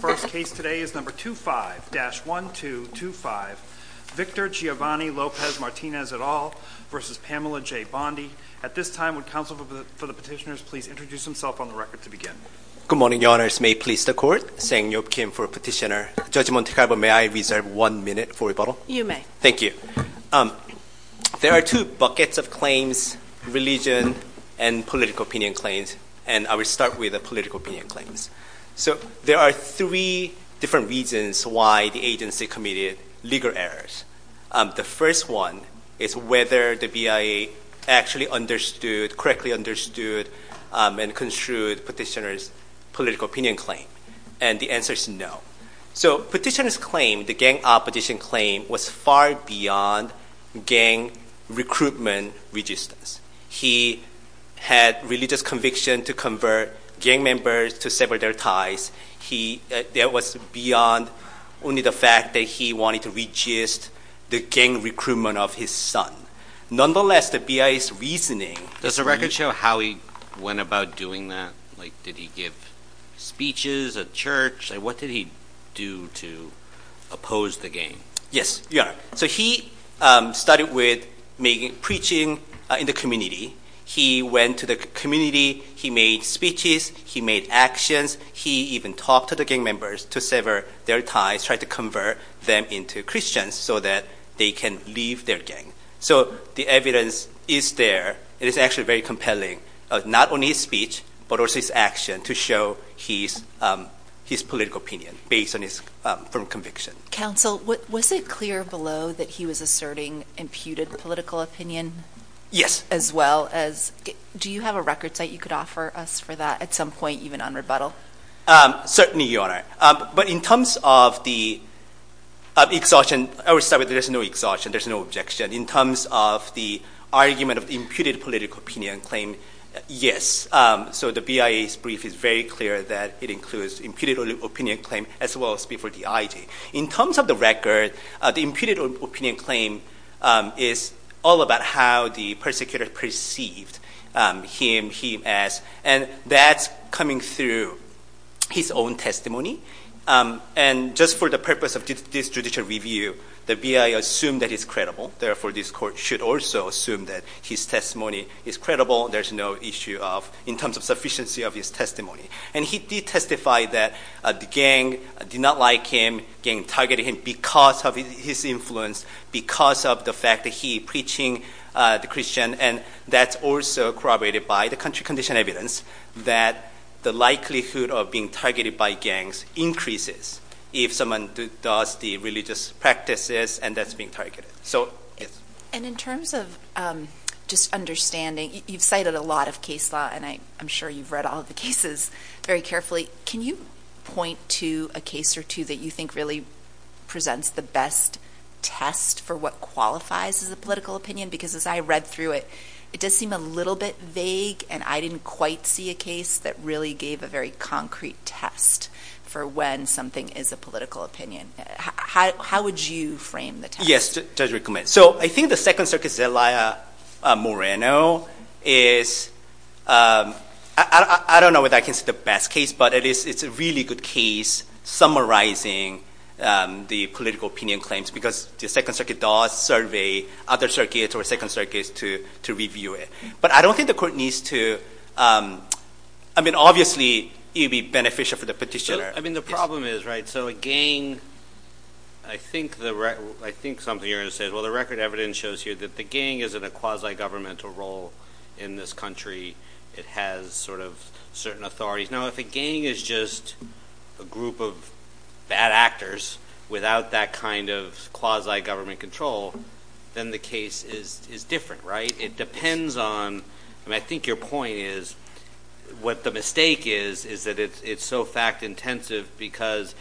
First case today is number 25-1225, Victor Giovanni Lopez Martinez et al. v. Pamela J. Bondi. At this time, would counsel for the petitioners please introduce themselves on the record to begin. Good morning, your honors. May it please the court? Sang Yeop Kim for petitioner. Judge Monte Carlo, may I reserve one minute for rebuttal? You may. Thank you. There are two buckets of claims, religion and political opinion claims, and I will start with the political opinion claims. So there are three different reasons why the agency committed legal errors. The first one is whether the BIA actually understood, correctly understood and construed petitioner's political opinion claim. And the answer is no. So petitioner's claim, the gang opposition claim, was far beyond gang recruitment resistance. He had religious conviction to convert gang members to sever their ties. That was beyond only the fact that he wanted to resist the gang recruitment of his son. Nonetheless, the BIA's reasoning- Does the record show how he went about doing that? Like, did he give speeches at church? What did he do to oppose the gang? Yes, your honor. So he started with preaching in the community. He went to the community. He made speeches. He made actions. He even talked to the gang members to sever their ties, tried to convert them into Christians so that they can leave their gang. So the evidence is there. It is actually very compelling, not only his speech, but also his action to show his political opinion based on his firm conviction. Counsel, was it clear below that he was asserting imputed political opinion? Yes. As well as- do you have a record site you could offer us for that at some point even on rebuttal? Certainly, your honor. But in terms of the exhaustion- I will start with there's no exhaustion, there's no objection. In terms of the argument of the imputed political opinion claim, yes. So the BIA's brief is very clear that it includes imputed opinion claim as well as before D.I.G. In terms of the record, the imputed opinion claim is all about how the persecutor perceived him, him as, and that's coming through his own testimony. And just for the purpose of this judicial review, the BIA assumed that he's credible. Therefore, this court should also assume that his testimony is credible. There's no issue of- in terms of sufficiency of his testimony. And he did testify that the gang did not like him, gang targeted him because of his influence, because of the fact that he preaching the Christian. And that's also corroborated by the country condition evidence that the likelihood of being targeted by gangs increases if someone does the religious practices and that's being targeted. So, yes. And in terms of just understanding, you've cited a lot of case law and I'm sure you've studied all of the cases very carefully. Can you point to a case or two that you think really presents the best test for what qualifies as a political opinion? Because as I read through it, it does seem a little bit vague and I didn't quite see a case that really gave a very concrete test for when something is a political opinion. How would you frame the test? Yes, Judge Rickman. So, I think the Second Circuit Zelaya Moreno is- I don't know whether I can say the best case but it's a really good case summarizing the political opinion claims because the Second Circuit does survey other circuits or Second Circuits to review it. But I don't think the court needs to- I mean, obviously, it would be beneficial for the petitioner. I mean, the problem is, right? So, a gang- I think something you're going to say is, well, the record evidence shows here that the gang is in a quasi-governmental role in this country. It has sort of certain authorities. Now, if a gang is just a group of bad actors without that kind of quasi-government control, then the case is different, right? It depends on- I mean, I think your point is- what the mistake is, is that it's so fact intensive because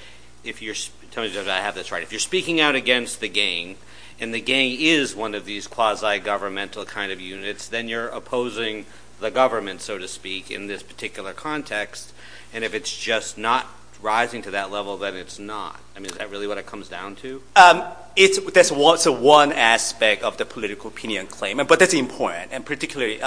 if you're- tell me, Judge, if I have this right- if you're speaking out against the gang and the gang is one of these quasi-governmental kind of units, then you're opposing the government, so to speak, in this particular context. And if it's just not rising to that level, then it's not. I mean, is that really what it comes down to? That's one aspect of the political opinion claim. But that's important and particularly-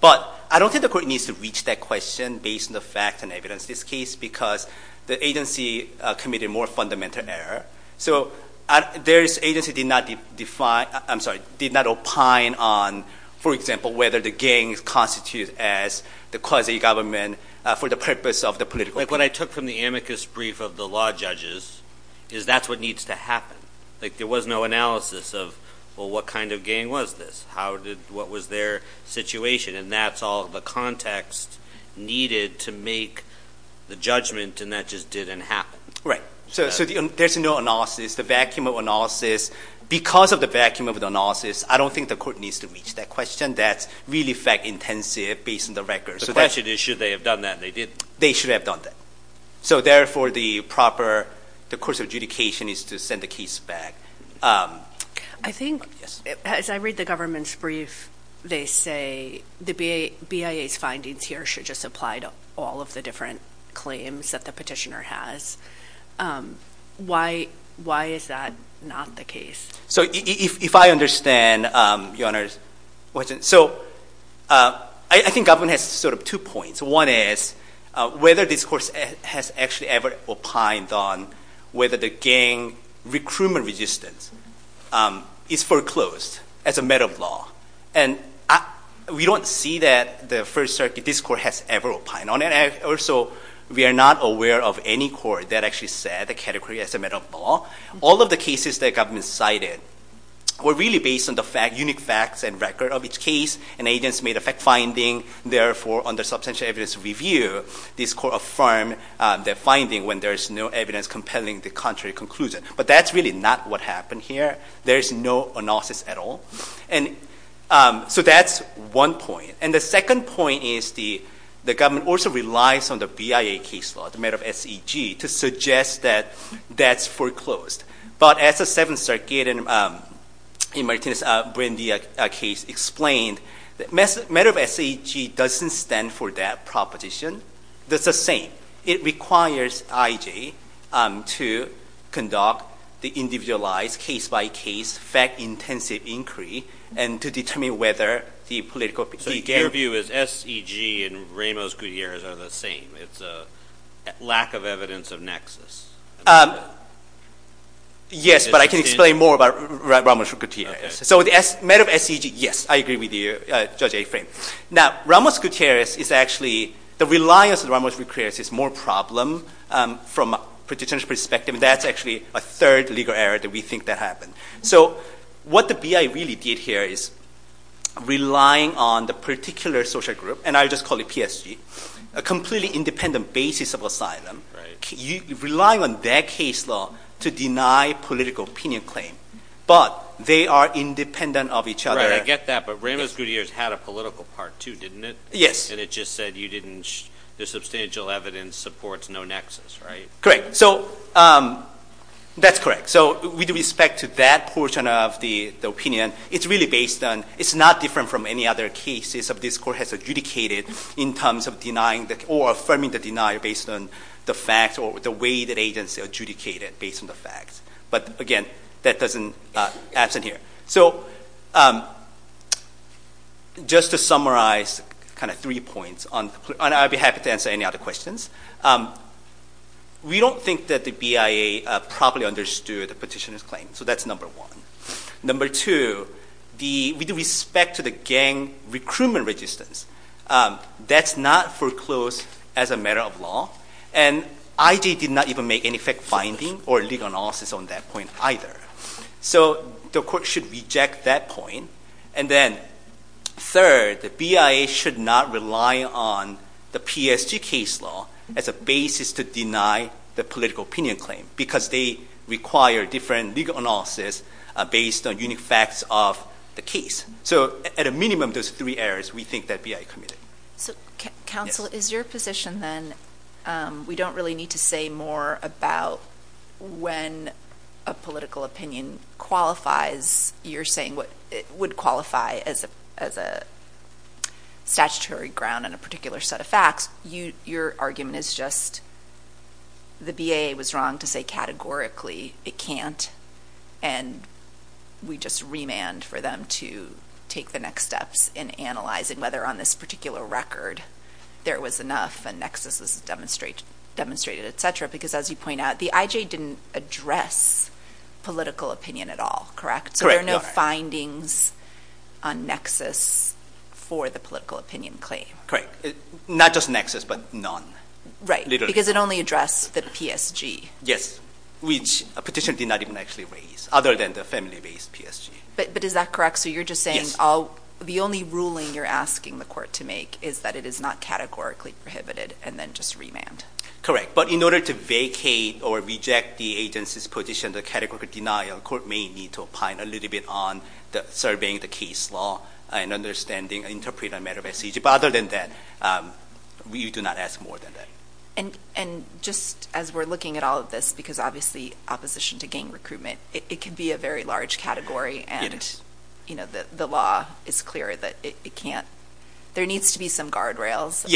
but I don't think the court needs to reach that question based on the fact and evidence of this case because the agency committed more fundamental error. So their agency did not define- I'm sorry, did not opine on, for example, whether the gang constitutes as the quasi-government for the purpose of the political- But what I took from the amicus brief of the law judges is that's what needs to happen. Like, there was no analysis of, well, what kind of gang was this? What was their situation? And that's all the context needed to make the judgment and that just didn't happen. Right. So there's no analysis. The vacuum of analysis- because of the vacuum of the analysis, I don't think the court needs to reach that question. That's really fact-intensive based on the records. The question is, should they have done that? They didn't. They should have done that. So therefore, the proper- the course of adjudication is to send the case back. I think, as I read the government's brief, they say the BIA's findings here should just apply to all of the different claims that the petitioner has. Why is that not the case? So if I understand Your Honor's question. So I think government has sort of two points. One is, whether this court has actually ever opined on whether the gang recruitment resistance is foreclosed as a matter of law. And we don't see that the First Circuit, this court, has ever opined on it. Also, we are not aware of any court that actually said the category as a matter of law. All of the cases that government cited were really based on the fact- unique facts and record of each case. And agents made a fact-finding. Therefore, under substantial evidence review, this court affirmed the finding when there is no evidence compelling the contrary conclusion. But that's really not what happened here. There's no analysis at all. So that's one point. And the second point is the government also relies on the BIA case law, the matter of SEG, to suggest that that's foreclosed. But as the Seventh Circuit in Martinez-Brandy case explained, matter of SEG doesn't stand for that proposition. That's the same. It requires IJ to conduct the individualized, case-by-case, fact-intensive inquiry and to determine whether the political- So your view is SEG and Ramos-Gutierrez are the same. It's a lack of evidence of nexus. Yes, but I can explain more about Ramos-Gutierrez. So the matter of SEG, yes, I agree with you, Judge Affran. Now, Ramos-Gutierrez is actually- the reliance on Ramos-Gutierrez is more a problem from a practitioner's perspective. That's actually a third legal error that we think that happened. So what the BIA really did here is relying on the particular social group, and I'll just call it PSG, a completely independent basis of asylum. Relying on that case law to deny political opinion claim, but they are independent of each other. Right, I get that, but Ramos-Gutierrez had a political part too, didn't it? Yes. And it just said you didn't- the substantial evidence supports no nexus, right? Correct. So that's correct. So with respect to that portion of the opinion, it's really based on- it's not different from any other cases that this Court has adjudicated in terms of denying or affirming the denial based on the facts or the way that agency adjudicated based on the facts. But again, that doesn't- absent here. So just to summarize kind of three points, and I'll be happy to answer any other questions. We don't think that the BIA properly understood the petitioner's claim, so that's number one. Number two, with respect to the gang recruitment resistance, that's not foreclosed as a matter of law. And IJ did not even make any fact-finding or legal analysis on that point either. So the Court should reject that point. And then third, the BIA should not rely on the PSG case law as a basis to deny the political opinion claim, because they require different legal analysis based on unique facts of the case. So at a minimum, those three errors, we think that BIA committed. So counsel, is your position then, we don't really need to say more about when a political opinion qualifies, you're saying it would qualify as a statutory ground on a particular set of facts. Your argument is just the BIA was wrong to say categorically it can't, and we just remand for them to take the next steps in analyzing whether on this particular record there was enough and nexus is demonstrated, et cetera, because as you point out, the IJ didn't address political opinion at all, correct? So there are no findings on nexus for the political opinion claim? Correct. Not just nexus, but none. Right, because it only addressed the PSG. Yes, which a petitioner did not even actually raise, other than the family-based PSG. But is that correct? So you're just saying the only ruling you're asking the court to make is that it is not categorically prohibited, and then just remand. Correct. But in order to vacate or reject the agency's position, the categorical denial, the court may need to opine a little bit on the surveying the case law and understanding and interpret a matter by PSG. But other than that, we do not ask more than that. And just as we're looking at all of this, because obviously opposition to gang recruitment, it can be a very large category, and the law is clear that it can't. There needs to be some guardrails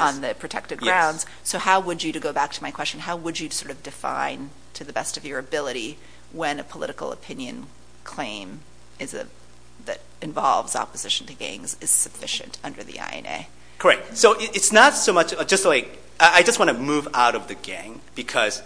on the protective grounds. So how would you, to go back to my question, how would you define, to the best of your ability, when a political opinion claim that involves opposition to gangs is sufficient under the INA? Correct. So it's not so much just like, I just want to move out of the gang, because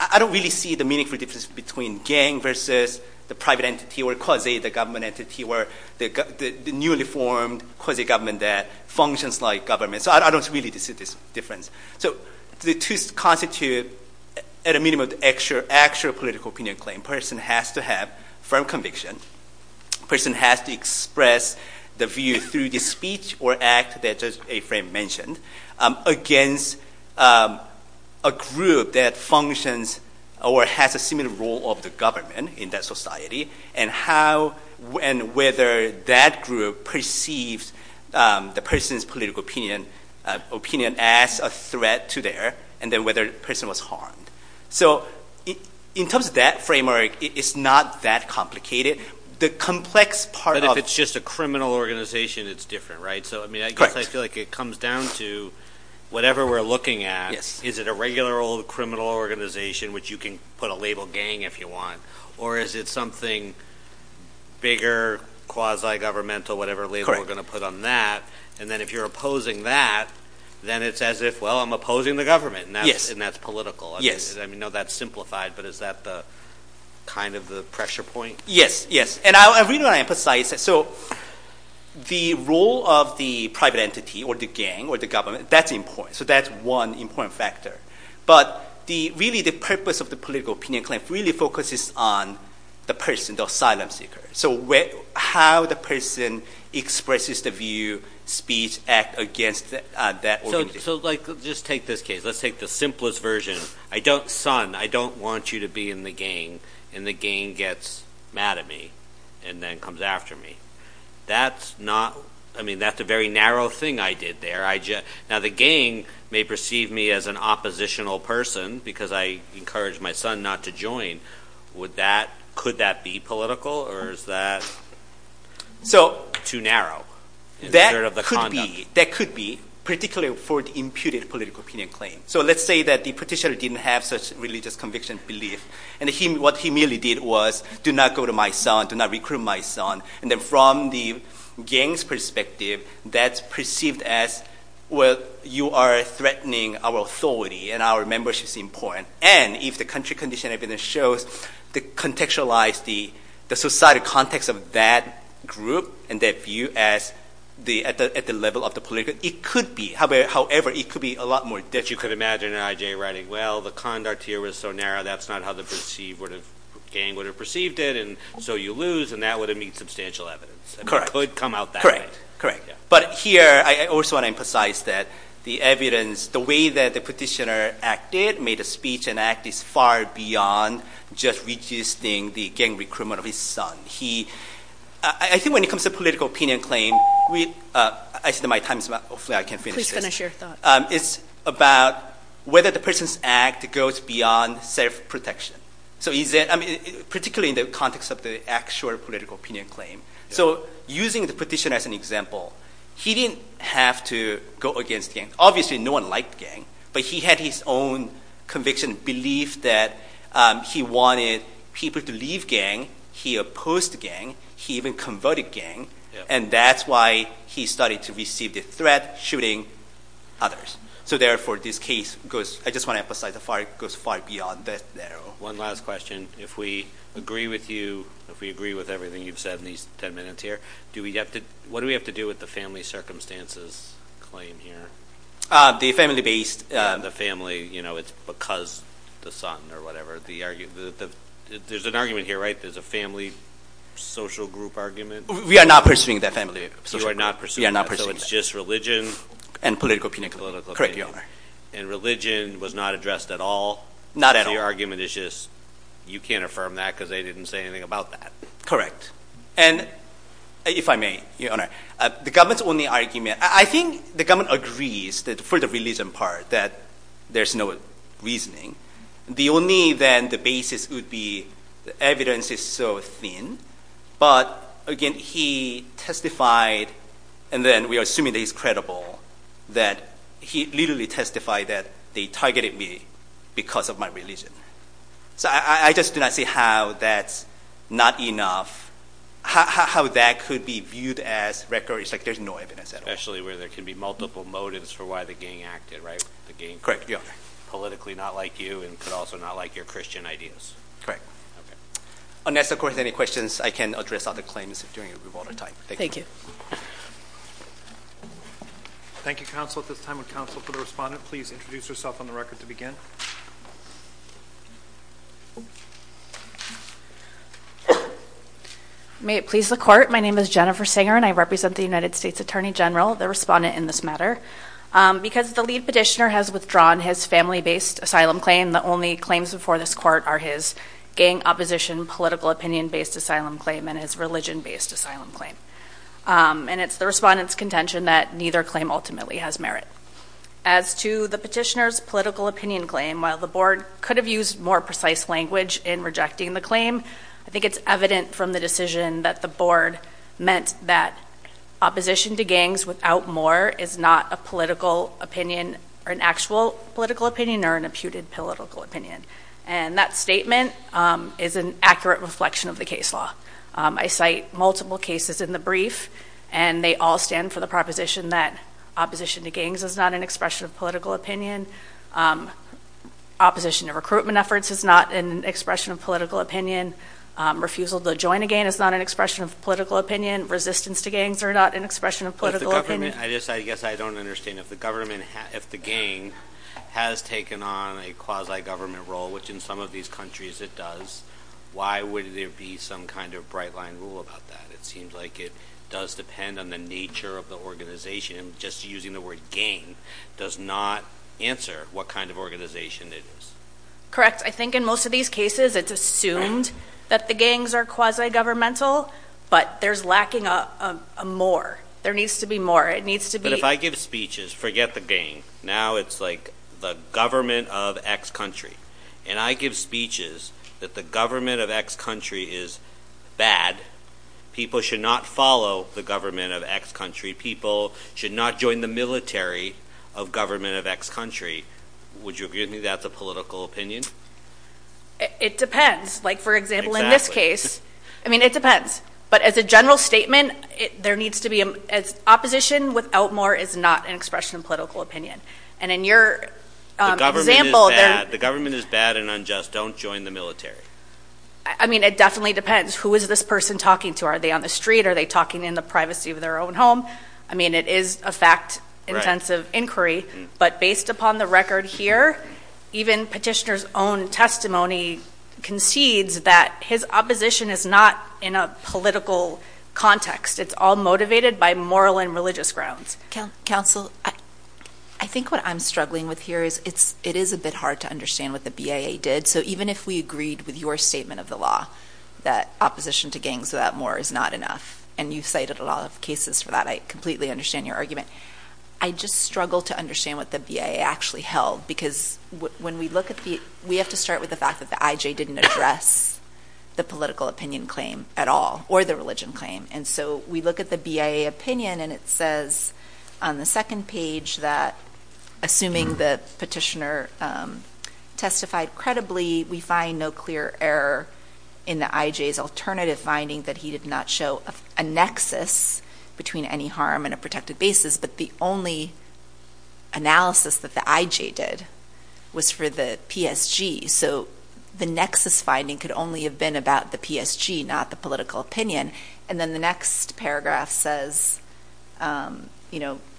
I don't really see the meaningful difference between gang versus the private entity, or quasi the government entity, or the newly formed quasi government that functions like government. So I don't really see this difference. So the two constitute, at a minimum, the actual political opinion claim. Person has to have firm conviction. Person has to express the view through the speech or act that Judge Affran mentioned against a group that functions or has a similar role of the government in that society, and how and whether that group perceives the person's political opinion as a threat to their, and then whether the person was harmed. So in terms of that framework, it's not that complicated. The complex part of- But if it's just a criminal organization, it's different, right? Correct. I feel like it comes down to whatever we're looking at, is it a regular old criminal organization which you can put a label gang if you want, or is it something bigger, quasi governmental, whatever label we're going to put on that, and then if you're opposing that, then it's as if, well, I'm opposing the government, and that's political. Yes. I mean, no, that's simplified, but is that kind of the pressure point? Yes. Yes. And I really want to emphasize, so the role of the private entity or the gang or the government, that's important. So that's one important factor. But really, the purpose of the political opinion claim really focuses on the person, the asylum seeker. So how the person expresses the view, speech, act against that organization. So just take this case. Let's take the simplest version, son, I don't want you to be in the gang, and the gang gets mad at me and then comes after me. That's not, I mean, that's a very narrow thing I did there. Now, the gang may perceive me as an oppositional person, because I encouraged my son not to Could that be political, or is that too narrow? That could be, particularly for the imputed political opinion claim. So let's say that the petitioner didn't have such religious conviction belief, and what he merely did was, do not go to my son, do not recruit my son. And then from the gang's perspective, that's perceived as, well, you are threatening our authority and our membership's important. And if the country condition I've been in shows the contextualized, the societal context of that group and that view at the level of the political, it could be, however, it could be a lot more. That you could imagine an IJ writing, well, the conduct here was so narrow, that's not how the perceived gang would have perceived it, and so you lose, and that would have meant substantial evidence. Correct. It could come out that way. Correct. Correct. But here, I also want to emphasize that the evidence, the way that the petitioner acted, made a speech and act, is far beyond just resisting the gang recruitment of his son. I think when it comes to political opinion claim, I said my time's up, hopefully I can finish this. Please finish your thought. It's about whether the person's act goes beyond self-protection, particularly in the context of the actual political opinion claim. So using the petitioner as an example, he didn't have to go against gang. Obviously, no one liked gang, but he had his own conviction, belief that he wanted people to leave gang, he opposed gang, he even converted gang, and that's why he started to receive the threat, shooting others. So therefore, this case goes, I just want to emphasize, it goes far beyond that. One last question. If we agree with you, if we agree with everything you've said in these ten minutes here, what do we have to do with the family circumstances claim here? The family-based. The family, you know, it's because the son or whatever, there's an argument here, right? There's a family social group argument? We are not pursuing that family social group. You are not pursuing that. So it's just religion? And political opinion. Political opinion. Correct, Your Honor. And religion was not addressed at all? Not at all. So your argument is just, you can't affirm that because they didn't say anything about that? Correct. And, if I may, Your Honor, the government's only argument, I think the government agrees that for the religion part, that there's no reasoning. The only, then, the basis would be the evidence is so thin, but, again, he testified, and then we are assuming that he's credible, that he literally testified that they targeted me because of my religion. So I just do not see how that's not enough, how that could be viewed as record, it's like there's no evidence at all. Especially where there can be multiple motives for why the gang acted, right? Correct. Politically not like you, and could also not like your Christian ideas. Correct. Unless, of course, any questions, I can address other claims during a revolt at a time. Thank you. Thank you, counsel, at this time. And, counsel, for the respondent, please introduce yourself on the record to begin. May it please the court, my name is Jennifer Singer, and I represent the United States Attorney General, the respondent in this matter. Because the lead petitioner has withdrawn his family-based asylum claim, the only claims before this court are his gang opposition political opinion-based asylum claim and his religion-based asylum claim. And it's the respondent's contention that neither claim ultimately has merit. As to the petitioner's political opinion claim, while the board could have used more precise language in rejecting the claim, I think it's evident from the decision that the board meant that opposition to gangs without more is not a political opinion, or an actual political opinion, or an imputed political opinion. And that statement is an accurate reflection of the case law. I cite multiple cases in the brief, and they all stand for the proposition that opposition to gangs is not an expression of political opinion, opposition to recruitment efforts is not an expression of political opinion, refusal to join a gang is not an expression of political opinion, resistance to gangs are not an expression of political opinion. But the government, I guess I don't understand, if the gang has taken on a quasi-government role, which in some of these countries it does, why would there be some kind of bright line rule about that? It seems like it does depend on the nature of the organization, and just using the word gang does not answer what kind of organization it is. Correct. I think in most of these cases it's assumed that the gangs are quasi-governmental, but there's lacking a more. There needs to be more. It needs to be... But if I give speeches, forget the gang, now it's like the government of X country. And I give speeches that the government of X country is bad, people should not follow the government of X country, people should not join the military of government of X country. Would you agree with me that's a political opinion? It depends. Like for example, in this case, I mean it depends. But as a general statement, there needs to be... Opposition without more is not an expression of political opinion. And in your example- The government is bad and unjust. Don't join the military. I mean it definitely depends. Who is this person talking to? Are they on the street? Are they talking in the privacy of their own home? I mean it is a fact-intensive inquiry, but based upon the record here, even petitioner's own testimony concedes that his opposition is not in a political context. It's all motivated by moral and religious grounds. Counsel, I think what I'm struggling with here is it is a bit hard to understand what the BIA did. So even if we agreed with your statement of the law that opposition to gangs without more is not enough, and you've cited a lot of cases for that, I completely understand your argument. I just struggle to understand what the BIA actually held because when we look at the... We have to start with the fact that the IJ didn't address the political opinion claim at all or the religion claim. And so we look at the BIA opinion and it says on the second page that assuming the petitioner testified credibly, we find no clear error in the IJ's alternative finding that he did not show a nexus between any harm and a protected basis. But the only analysis that the IJ did was for the PSG. So the nexus finding could only have been about the PSG, not the political opinion. And then the next paragraph says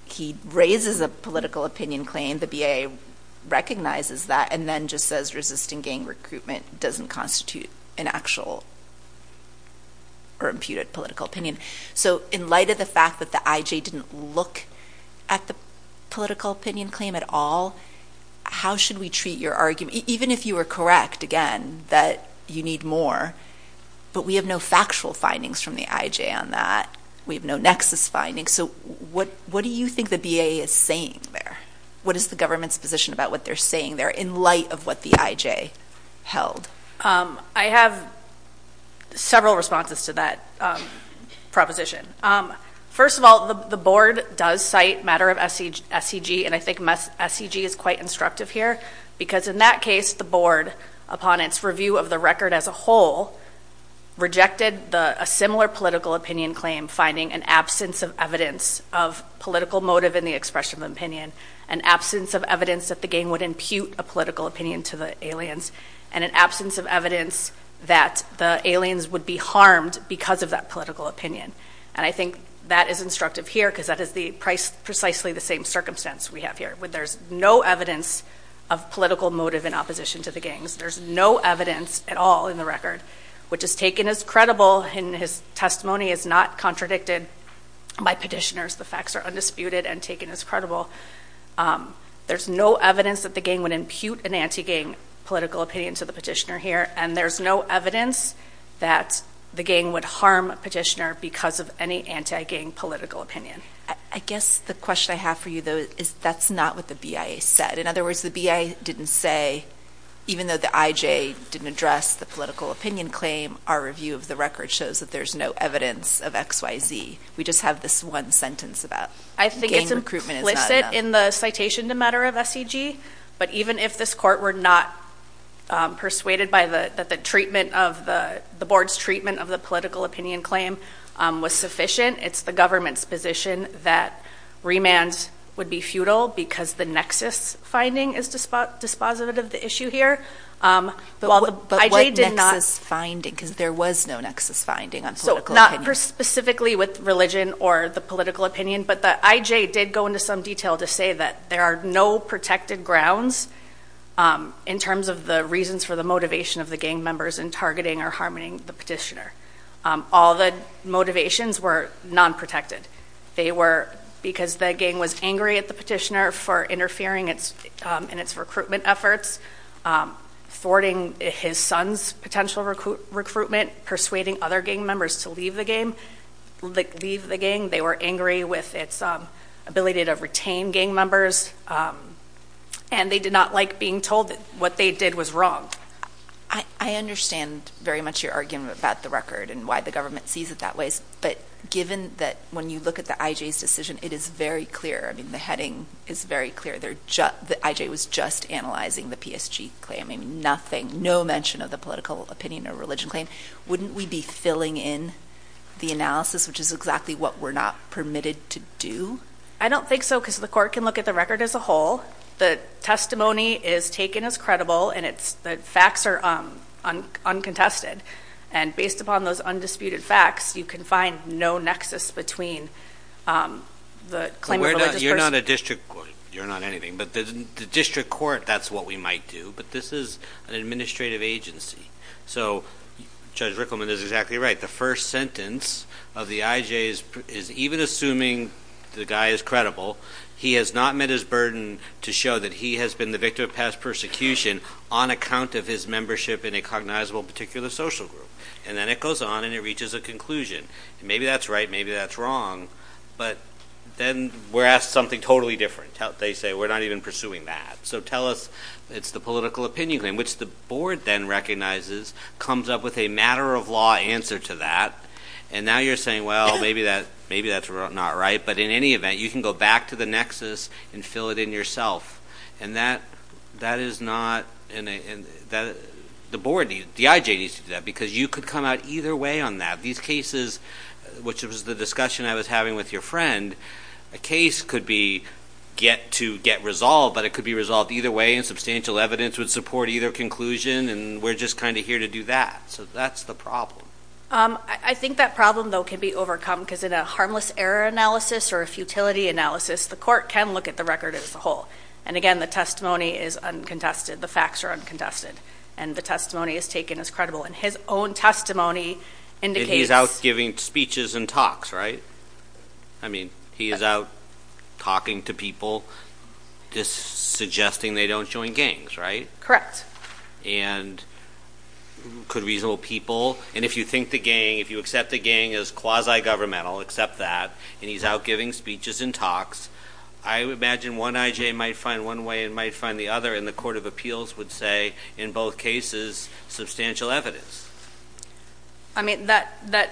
he raises a political opinion claim. The BIA recognizes that and then just says resisting gang recruitment doesn't constitute an actual or imputed political opinion. So in light of the fact that the IJ didn't look at the political opinion claim at all, how should we treat your argument? Even if you were correct, again, that you need more, but we have no factual findings from the IJ on that. We have no nexus findings. So what do you think the BIA is saying there? What is the government's position about what they're saying there in light of what the IJ held? I have several responses to that proposition. First of all, the board does cite matter of SEG, and I think SEG is quite instructive here, because in that case, the board, upon its review of the record as a whole, rejected a similar political opinion claim finding an absence of evidence of political motive in the expression of opinion, an absence of evidence that the gang would impute a political opinion to the aliens, and an absence of evidence that the aliens would be harmed because of that political opinion. And I think that is instructive here, because that is precisely the same circumstance we have here, where there's no evidence of political motive in opposition to the gangs. There's no evidence at all in the record, which is taken as credible, and his testimony is not contradicted by petitioners. The facts are undisputed and taken as credible. There's no evidence that the gang would impute an anti-gang political opinion to the petitioner here, and there's no evidence that the gang would harm a petitioner because of any anti-gang political opinion. I guess the question I have for you, though, is that's not what the BIA said. In other words, the BIA didn't say, even though the IJ didn't address the political opinion claim, our review of the record shows that there's no evidence of XYZ. We just have this one sentence about gang recruitment is not true. It doesn't sit in the citation to matter of SEG, but even if this court were not persuaded by that the treatment of the board's treatment of the political opinion claim was sufficient, it's the government's position that remands would be futile because the nexus finding is dispositive of the issue here, while the IJ did not- But what nexus finding? Because there was no nexus finding on political opinion. So, not specifically with religion or the political opinion, but the IJ did go into some detail to say that there are no protected grounds in terms of the reasons for the motivation of the gang members in targeting or harming the petitioner. All the motivations were non-protected. They were, because the gang was angry at the petitioner for interfering in its recruitment efforts, thwarting his son's potential recruitment, persuading other gang members to leave the gang. They were angry with its ability to retain gang members, and they did not like being told that what they did was wrong. I understand very much your argument about the record and why the government sees it that way, but given that when you look at the IJ's decision, it is very clear, the heading is very clear, the IJ was just analyzing the PSG claim, nothing, no mention of the political opinion or religion claim, wouldn't we be filling in the analysis, which is exactly what we're not permitted to do? I don't think so, because the court can look at the record as a whole, the testimony is taken as credible, and it's, the facts are uncontested. And based upon those undisputed facts, you can find no nexus between the claim of a religious person. You're not a district court, you're not anything, but the district court, that's what we might do, but this is an administrative agency. So Judge Rickleman is exactly right. The first sentence of the IJ is even assuming the guy is credible, he has not met his burden to show that he has been the victim of past persecution on account of his membership in a cognizable particular social group, and then it goes on and it reaches a conclusion. Maybe that's right, maybe that's wrong, but then we're asked something totally different. They say, we're not even pursuing that. So tell us, it's the political opinion claim, which the board then recognizes, comes up with a matter-of-law answer to that, and now you're saying, well, maybe that's not right, but in any event, you can go back to the nexus and fill it in yourself. And that is not, the board needs, the IJ needs to do that, because you could come out either way on that. These cases, which was the discussion I was having with your friend, a case could be, could get to get resolved, but it could be resolved either way, and substantial evidence would support either conclusion, and we're just kind of here to do that. So that's the problem. I think that problem, though, can be overcome, because in a harmless error analysis or a futility analysis, the court can look at the record as a whole. And again, the testimony is uncontested, the facts are uncontested, and the testimony is taken as credible. And his own testimony indicates... And he's out giving speeches and talks, right? I mean, he is out talking to people, just suggesting they don't join gangs, right? Correct. And could reasonable people, and if you think the gang, if you accept the gang as quasi-governmental, accept that, and he's out giving speeches and talks, I imagine one IJ might find one way and might find the other, and the Court of Appeals would say, in both cases, substantial evidence. I mean, that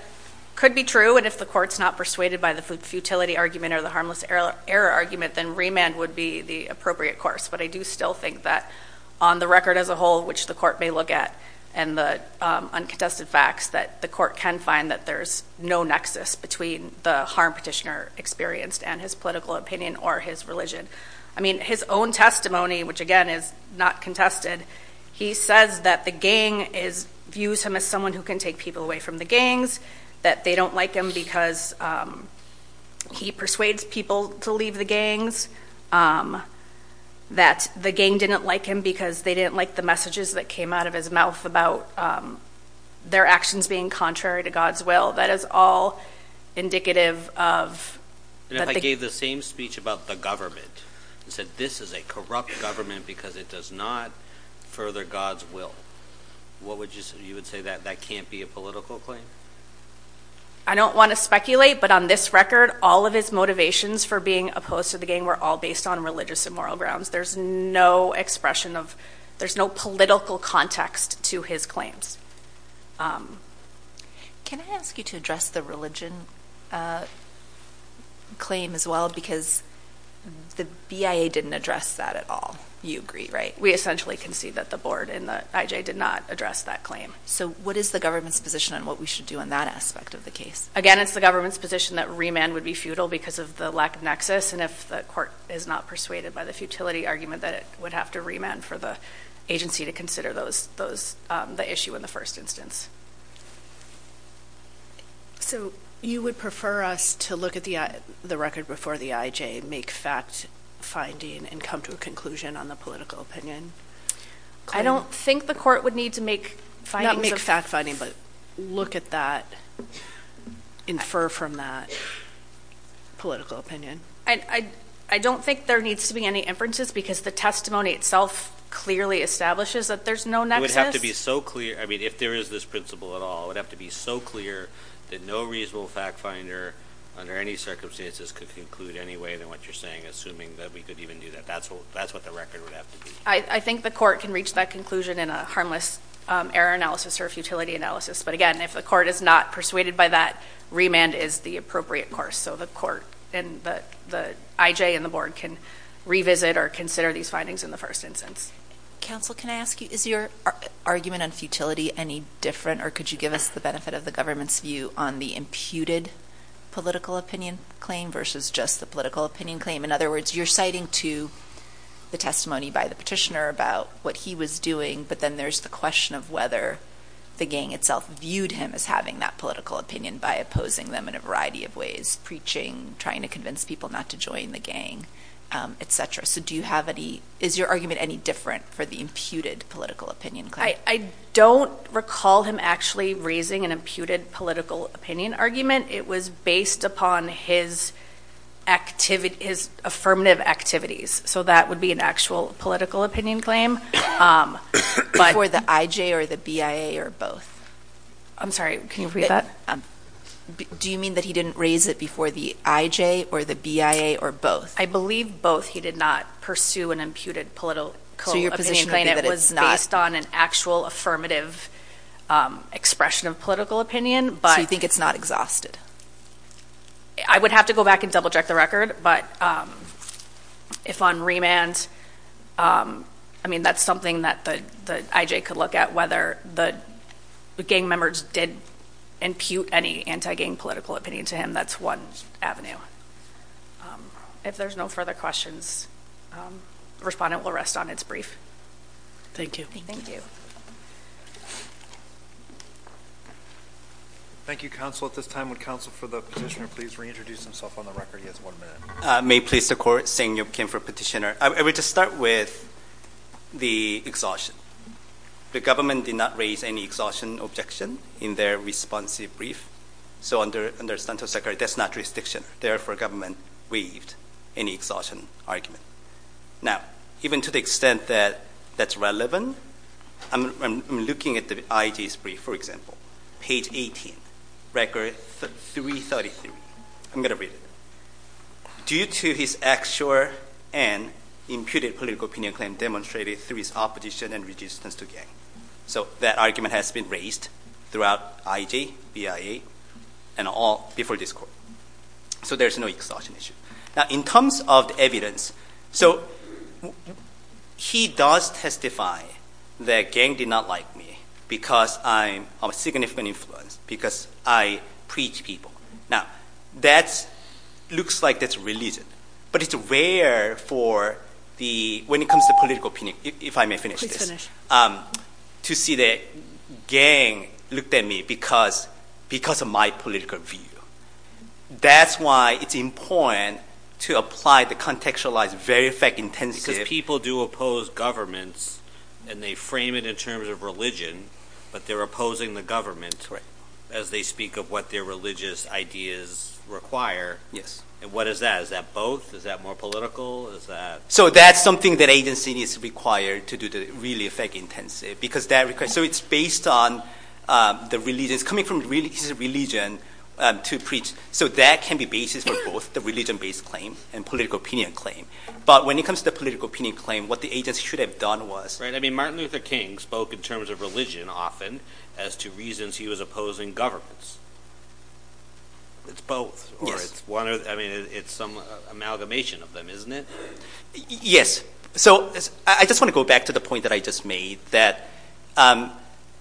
could be true, and if the court's not persuaded by the futility argument or the harmless error argument, then remand would be the appropriate course. But I do still think that on the record as a whole, which the court may look at, and the uncontested facts, that the court can find that there's no nexus between the harm petitioner experienced and his political opinion or his religion. I mean, his own testimony, which again, is not contested. He says that the gang views him as someone who can take people away from the gangs, that they don't like him because he persuades people to leave the gangs, that the gang didn't like him because they didn't like the messages that came out of his mouth about their actions being contrary to God's will. That is all indicative of... And if I gave the same speech about the government and said, this is a corrupt government because it does not further God's will, what would you say? You would say that that can't be a political claim? I don't want to speculate, but on this record, all of his motivations for being opposed to the gang were all based on religious and moral grounds. There's no expression of... There's no political context to his claims. Can I ask you to address the religion claim as well? Because the BIA didn't address that at all. You agree, right? We essentially concede that the board and the IJ did not address that claim. So what is the government's position on what we should do in that aspect of the case? Again, it's the government's position that remand would be futile because of the lack of nexus, and if the court is not persuaded by the futility argument, that it would have to remand for the agency to consider the issue in the first instance. So you would prefer us to look at the record before the IJ, make fact finding, and come to a conclusion on the political opinion? I don't think the court would need to make findings of... Not make fact finding, but look at that, infer from that political opinion. I don't think there needs to be any inferences because the testimony itself clearly establishes that there's no nexus. It would have to be so clear. I mean, if there is this principle at all, it would have to be so clear that no reasonable fact finder under any circumstances could conclude any way than what you're saying, assuming that we could even do that. That's what the record would have to be. I think the court can reach that conclusion in a harmless error analysis or a futility analysis. But again, if the court is not persuaded by that, remand is the appropriate course. So the court and the IJ and the board can revisit or consider these findings in the first instance. Counsel, can I ask you, is your argument on futility any different, or could you give us the benefit of the government's view on the imputed political opinion claim versus just the political opinion claim? In other words, you're citing to the testimony by the petitioner about what he was doing, but then there's the question of whether the gang itself viewed him as having that political opinion by opposing them in a variety of ways, preaching, trying to convince people not to join the gang, et cetera. So do you have any, is your argument any different for the imputed political opinion claim? I don't recall him actually raising an imputed political opinion argument. It was based upon his affirmative activities. So that would be an actual political opinion claim. For the IJ or the BIA or both? I'm sorry, can you repeat that? Do you mean that he didn't raise it before the IJ or the BIA or both? I believe both. He did not pursue an imputed political opinion claim. It was based on an actual affirmative expression of political opinion. So you think it's not exhausted? I would have to go back and double check the record, but if on remand, I mean, that's something that the IJ could look at whether the gang members did impute any anti-gang political opinion to him. That's one avenue. If there's no further questions, the respondent will rest on its brief. Thank you. Thank you. Thank you. Thank you, counsel. At this time, would counsel for the petitioner please reintroduce himself on the record. He has one minute. May it please the court, Seng-Yup Kim for petitioner. I would just start with the exhaustion. The government did not raise any exhaustion objection in their responsive brief. So under Stantos' record, that's not jurisdiction. Therefore government waived any exhaustion argument. Now, even to the extent that that's relevant, I'm looking at the IJ's brief, for example. Page 18, record 333. I'm going to read it. Due to his actual and imputed political opinion claim demonstrated through his opposition and resistance to gang. So that argument has been raised throughout IJ, BIA, and all before this court. So there's no exhaustion issue. Now, in terms of evidence, so he does testify that gang did not like me because I'm a significant influence, because I preach people. Now, that looks like that's religion. But it's rare for the, when it comes to political opinion, if I may finish this, to see that gang looked at me because of my political view. That's why it's important to apply the contextualized very effect intensive. Because people do oppose governments and they frame it in terms of religion, but they're opposing the government as they speak of what their religious ideas require. Yes. And what is that? Is that both? Is that more political? Is that? So that's something that agency is required to do to really effect intensive. Because that request, so it's based on the religion. It's coming from his religion to preach. So that can be basis for both the religion-based claim and political opinion claim. But when it comes to the political opinion claim, what the agency should have done was- Right, I mean, Martin Luther King spoke in terms of religion often as to reasons he was opposing governments. It's both, or it's one or, I mean, it's some amalgamation of them, isn't it? Yes. So I just want to go back to the point that I just made, that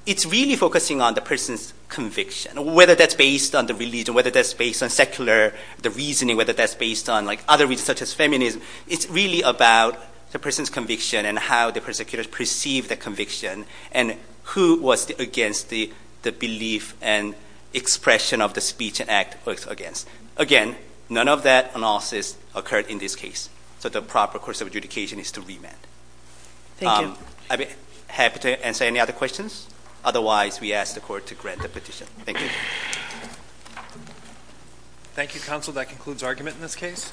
it's really focusing on the person's conviction, whether that's based on the religion, whether that's based on secular, the reasoning, whether that's based on other reasons such as feminism. It's really about the person's conviction and how the prosecutors perceive the conviction and who was against the belief and expression of the speech and act against. Again, none of that analysis occurred in this case. So the proper course of adjudication is to remand. Thank you. I'd be happy to answer any other questions. Otherwise, we ask the court to grant the petition. Thank you. Thank you, counsel. That concludes argument in this case.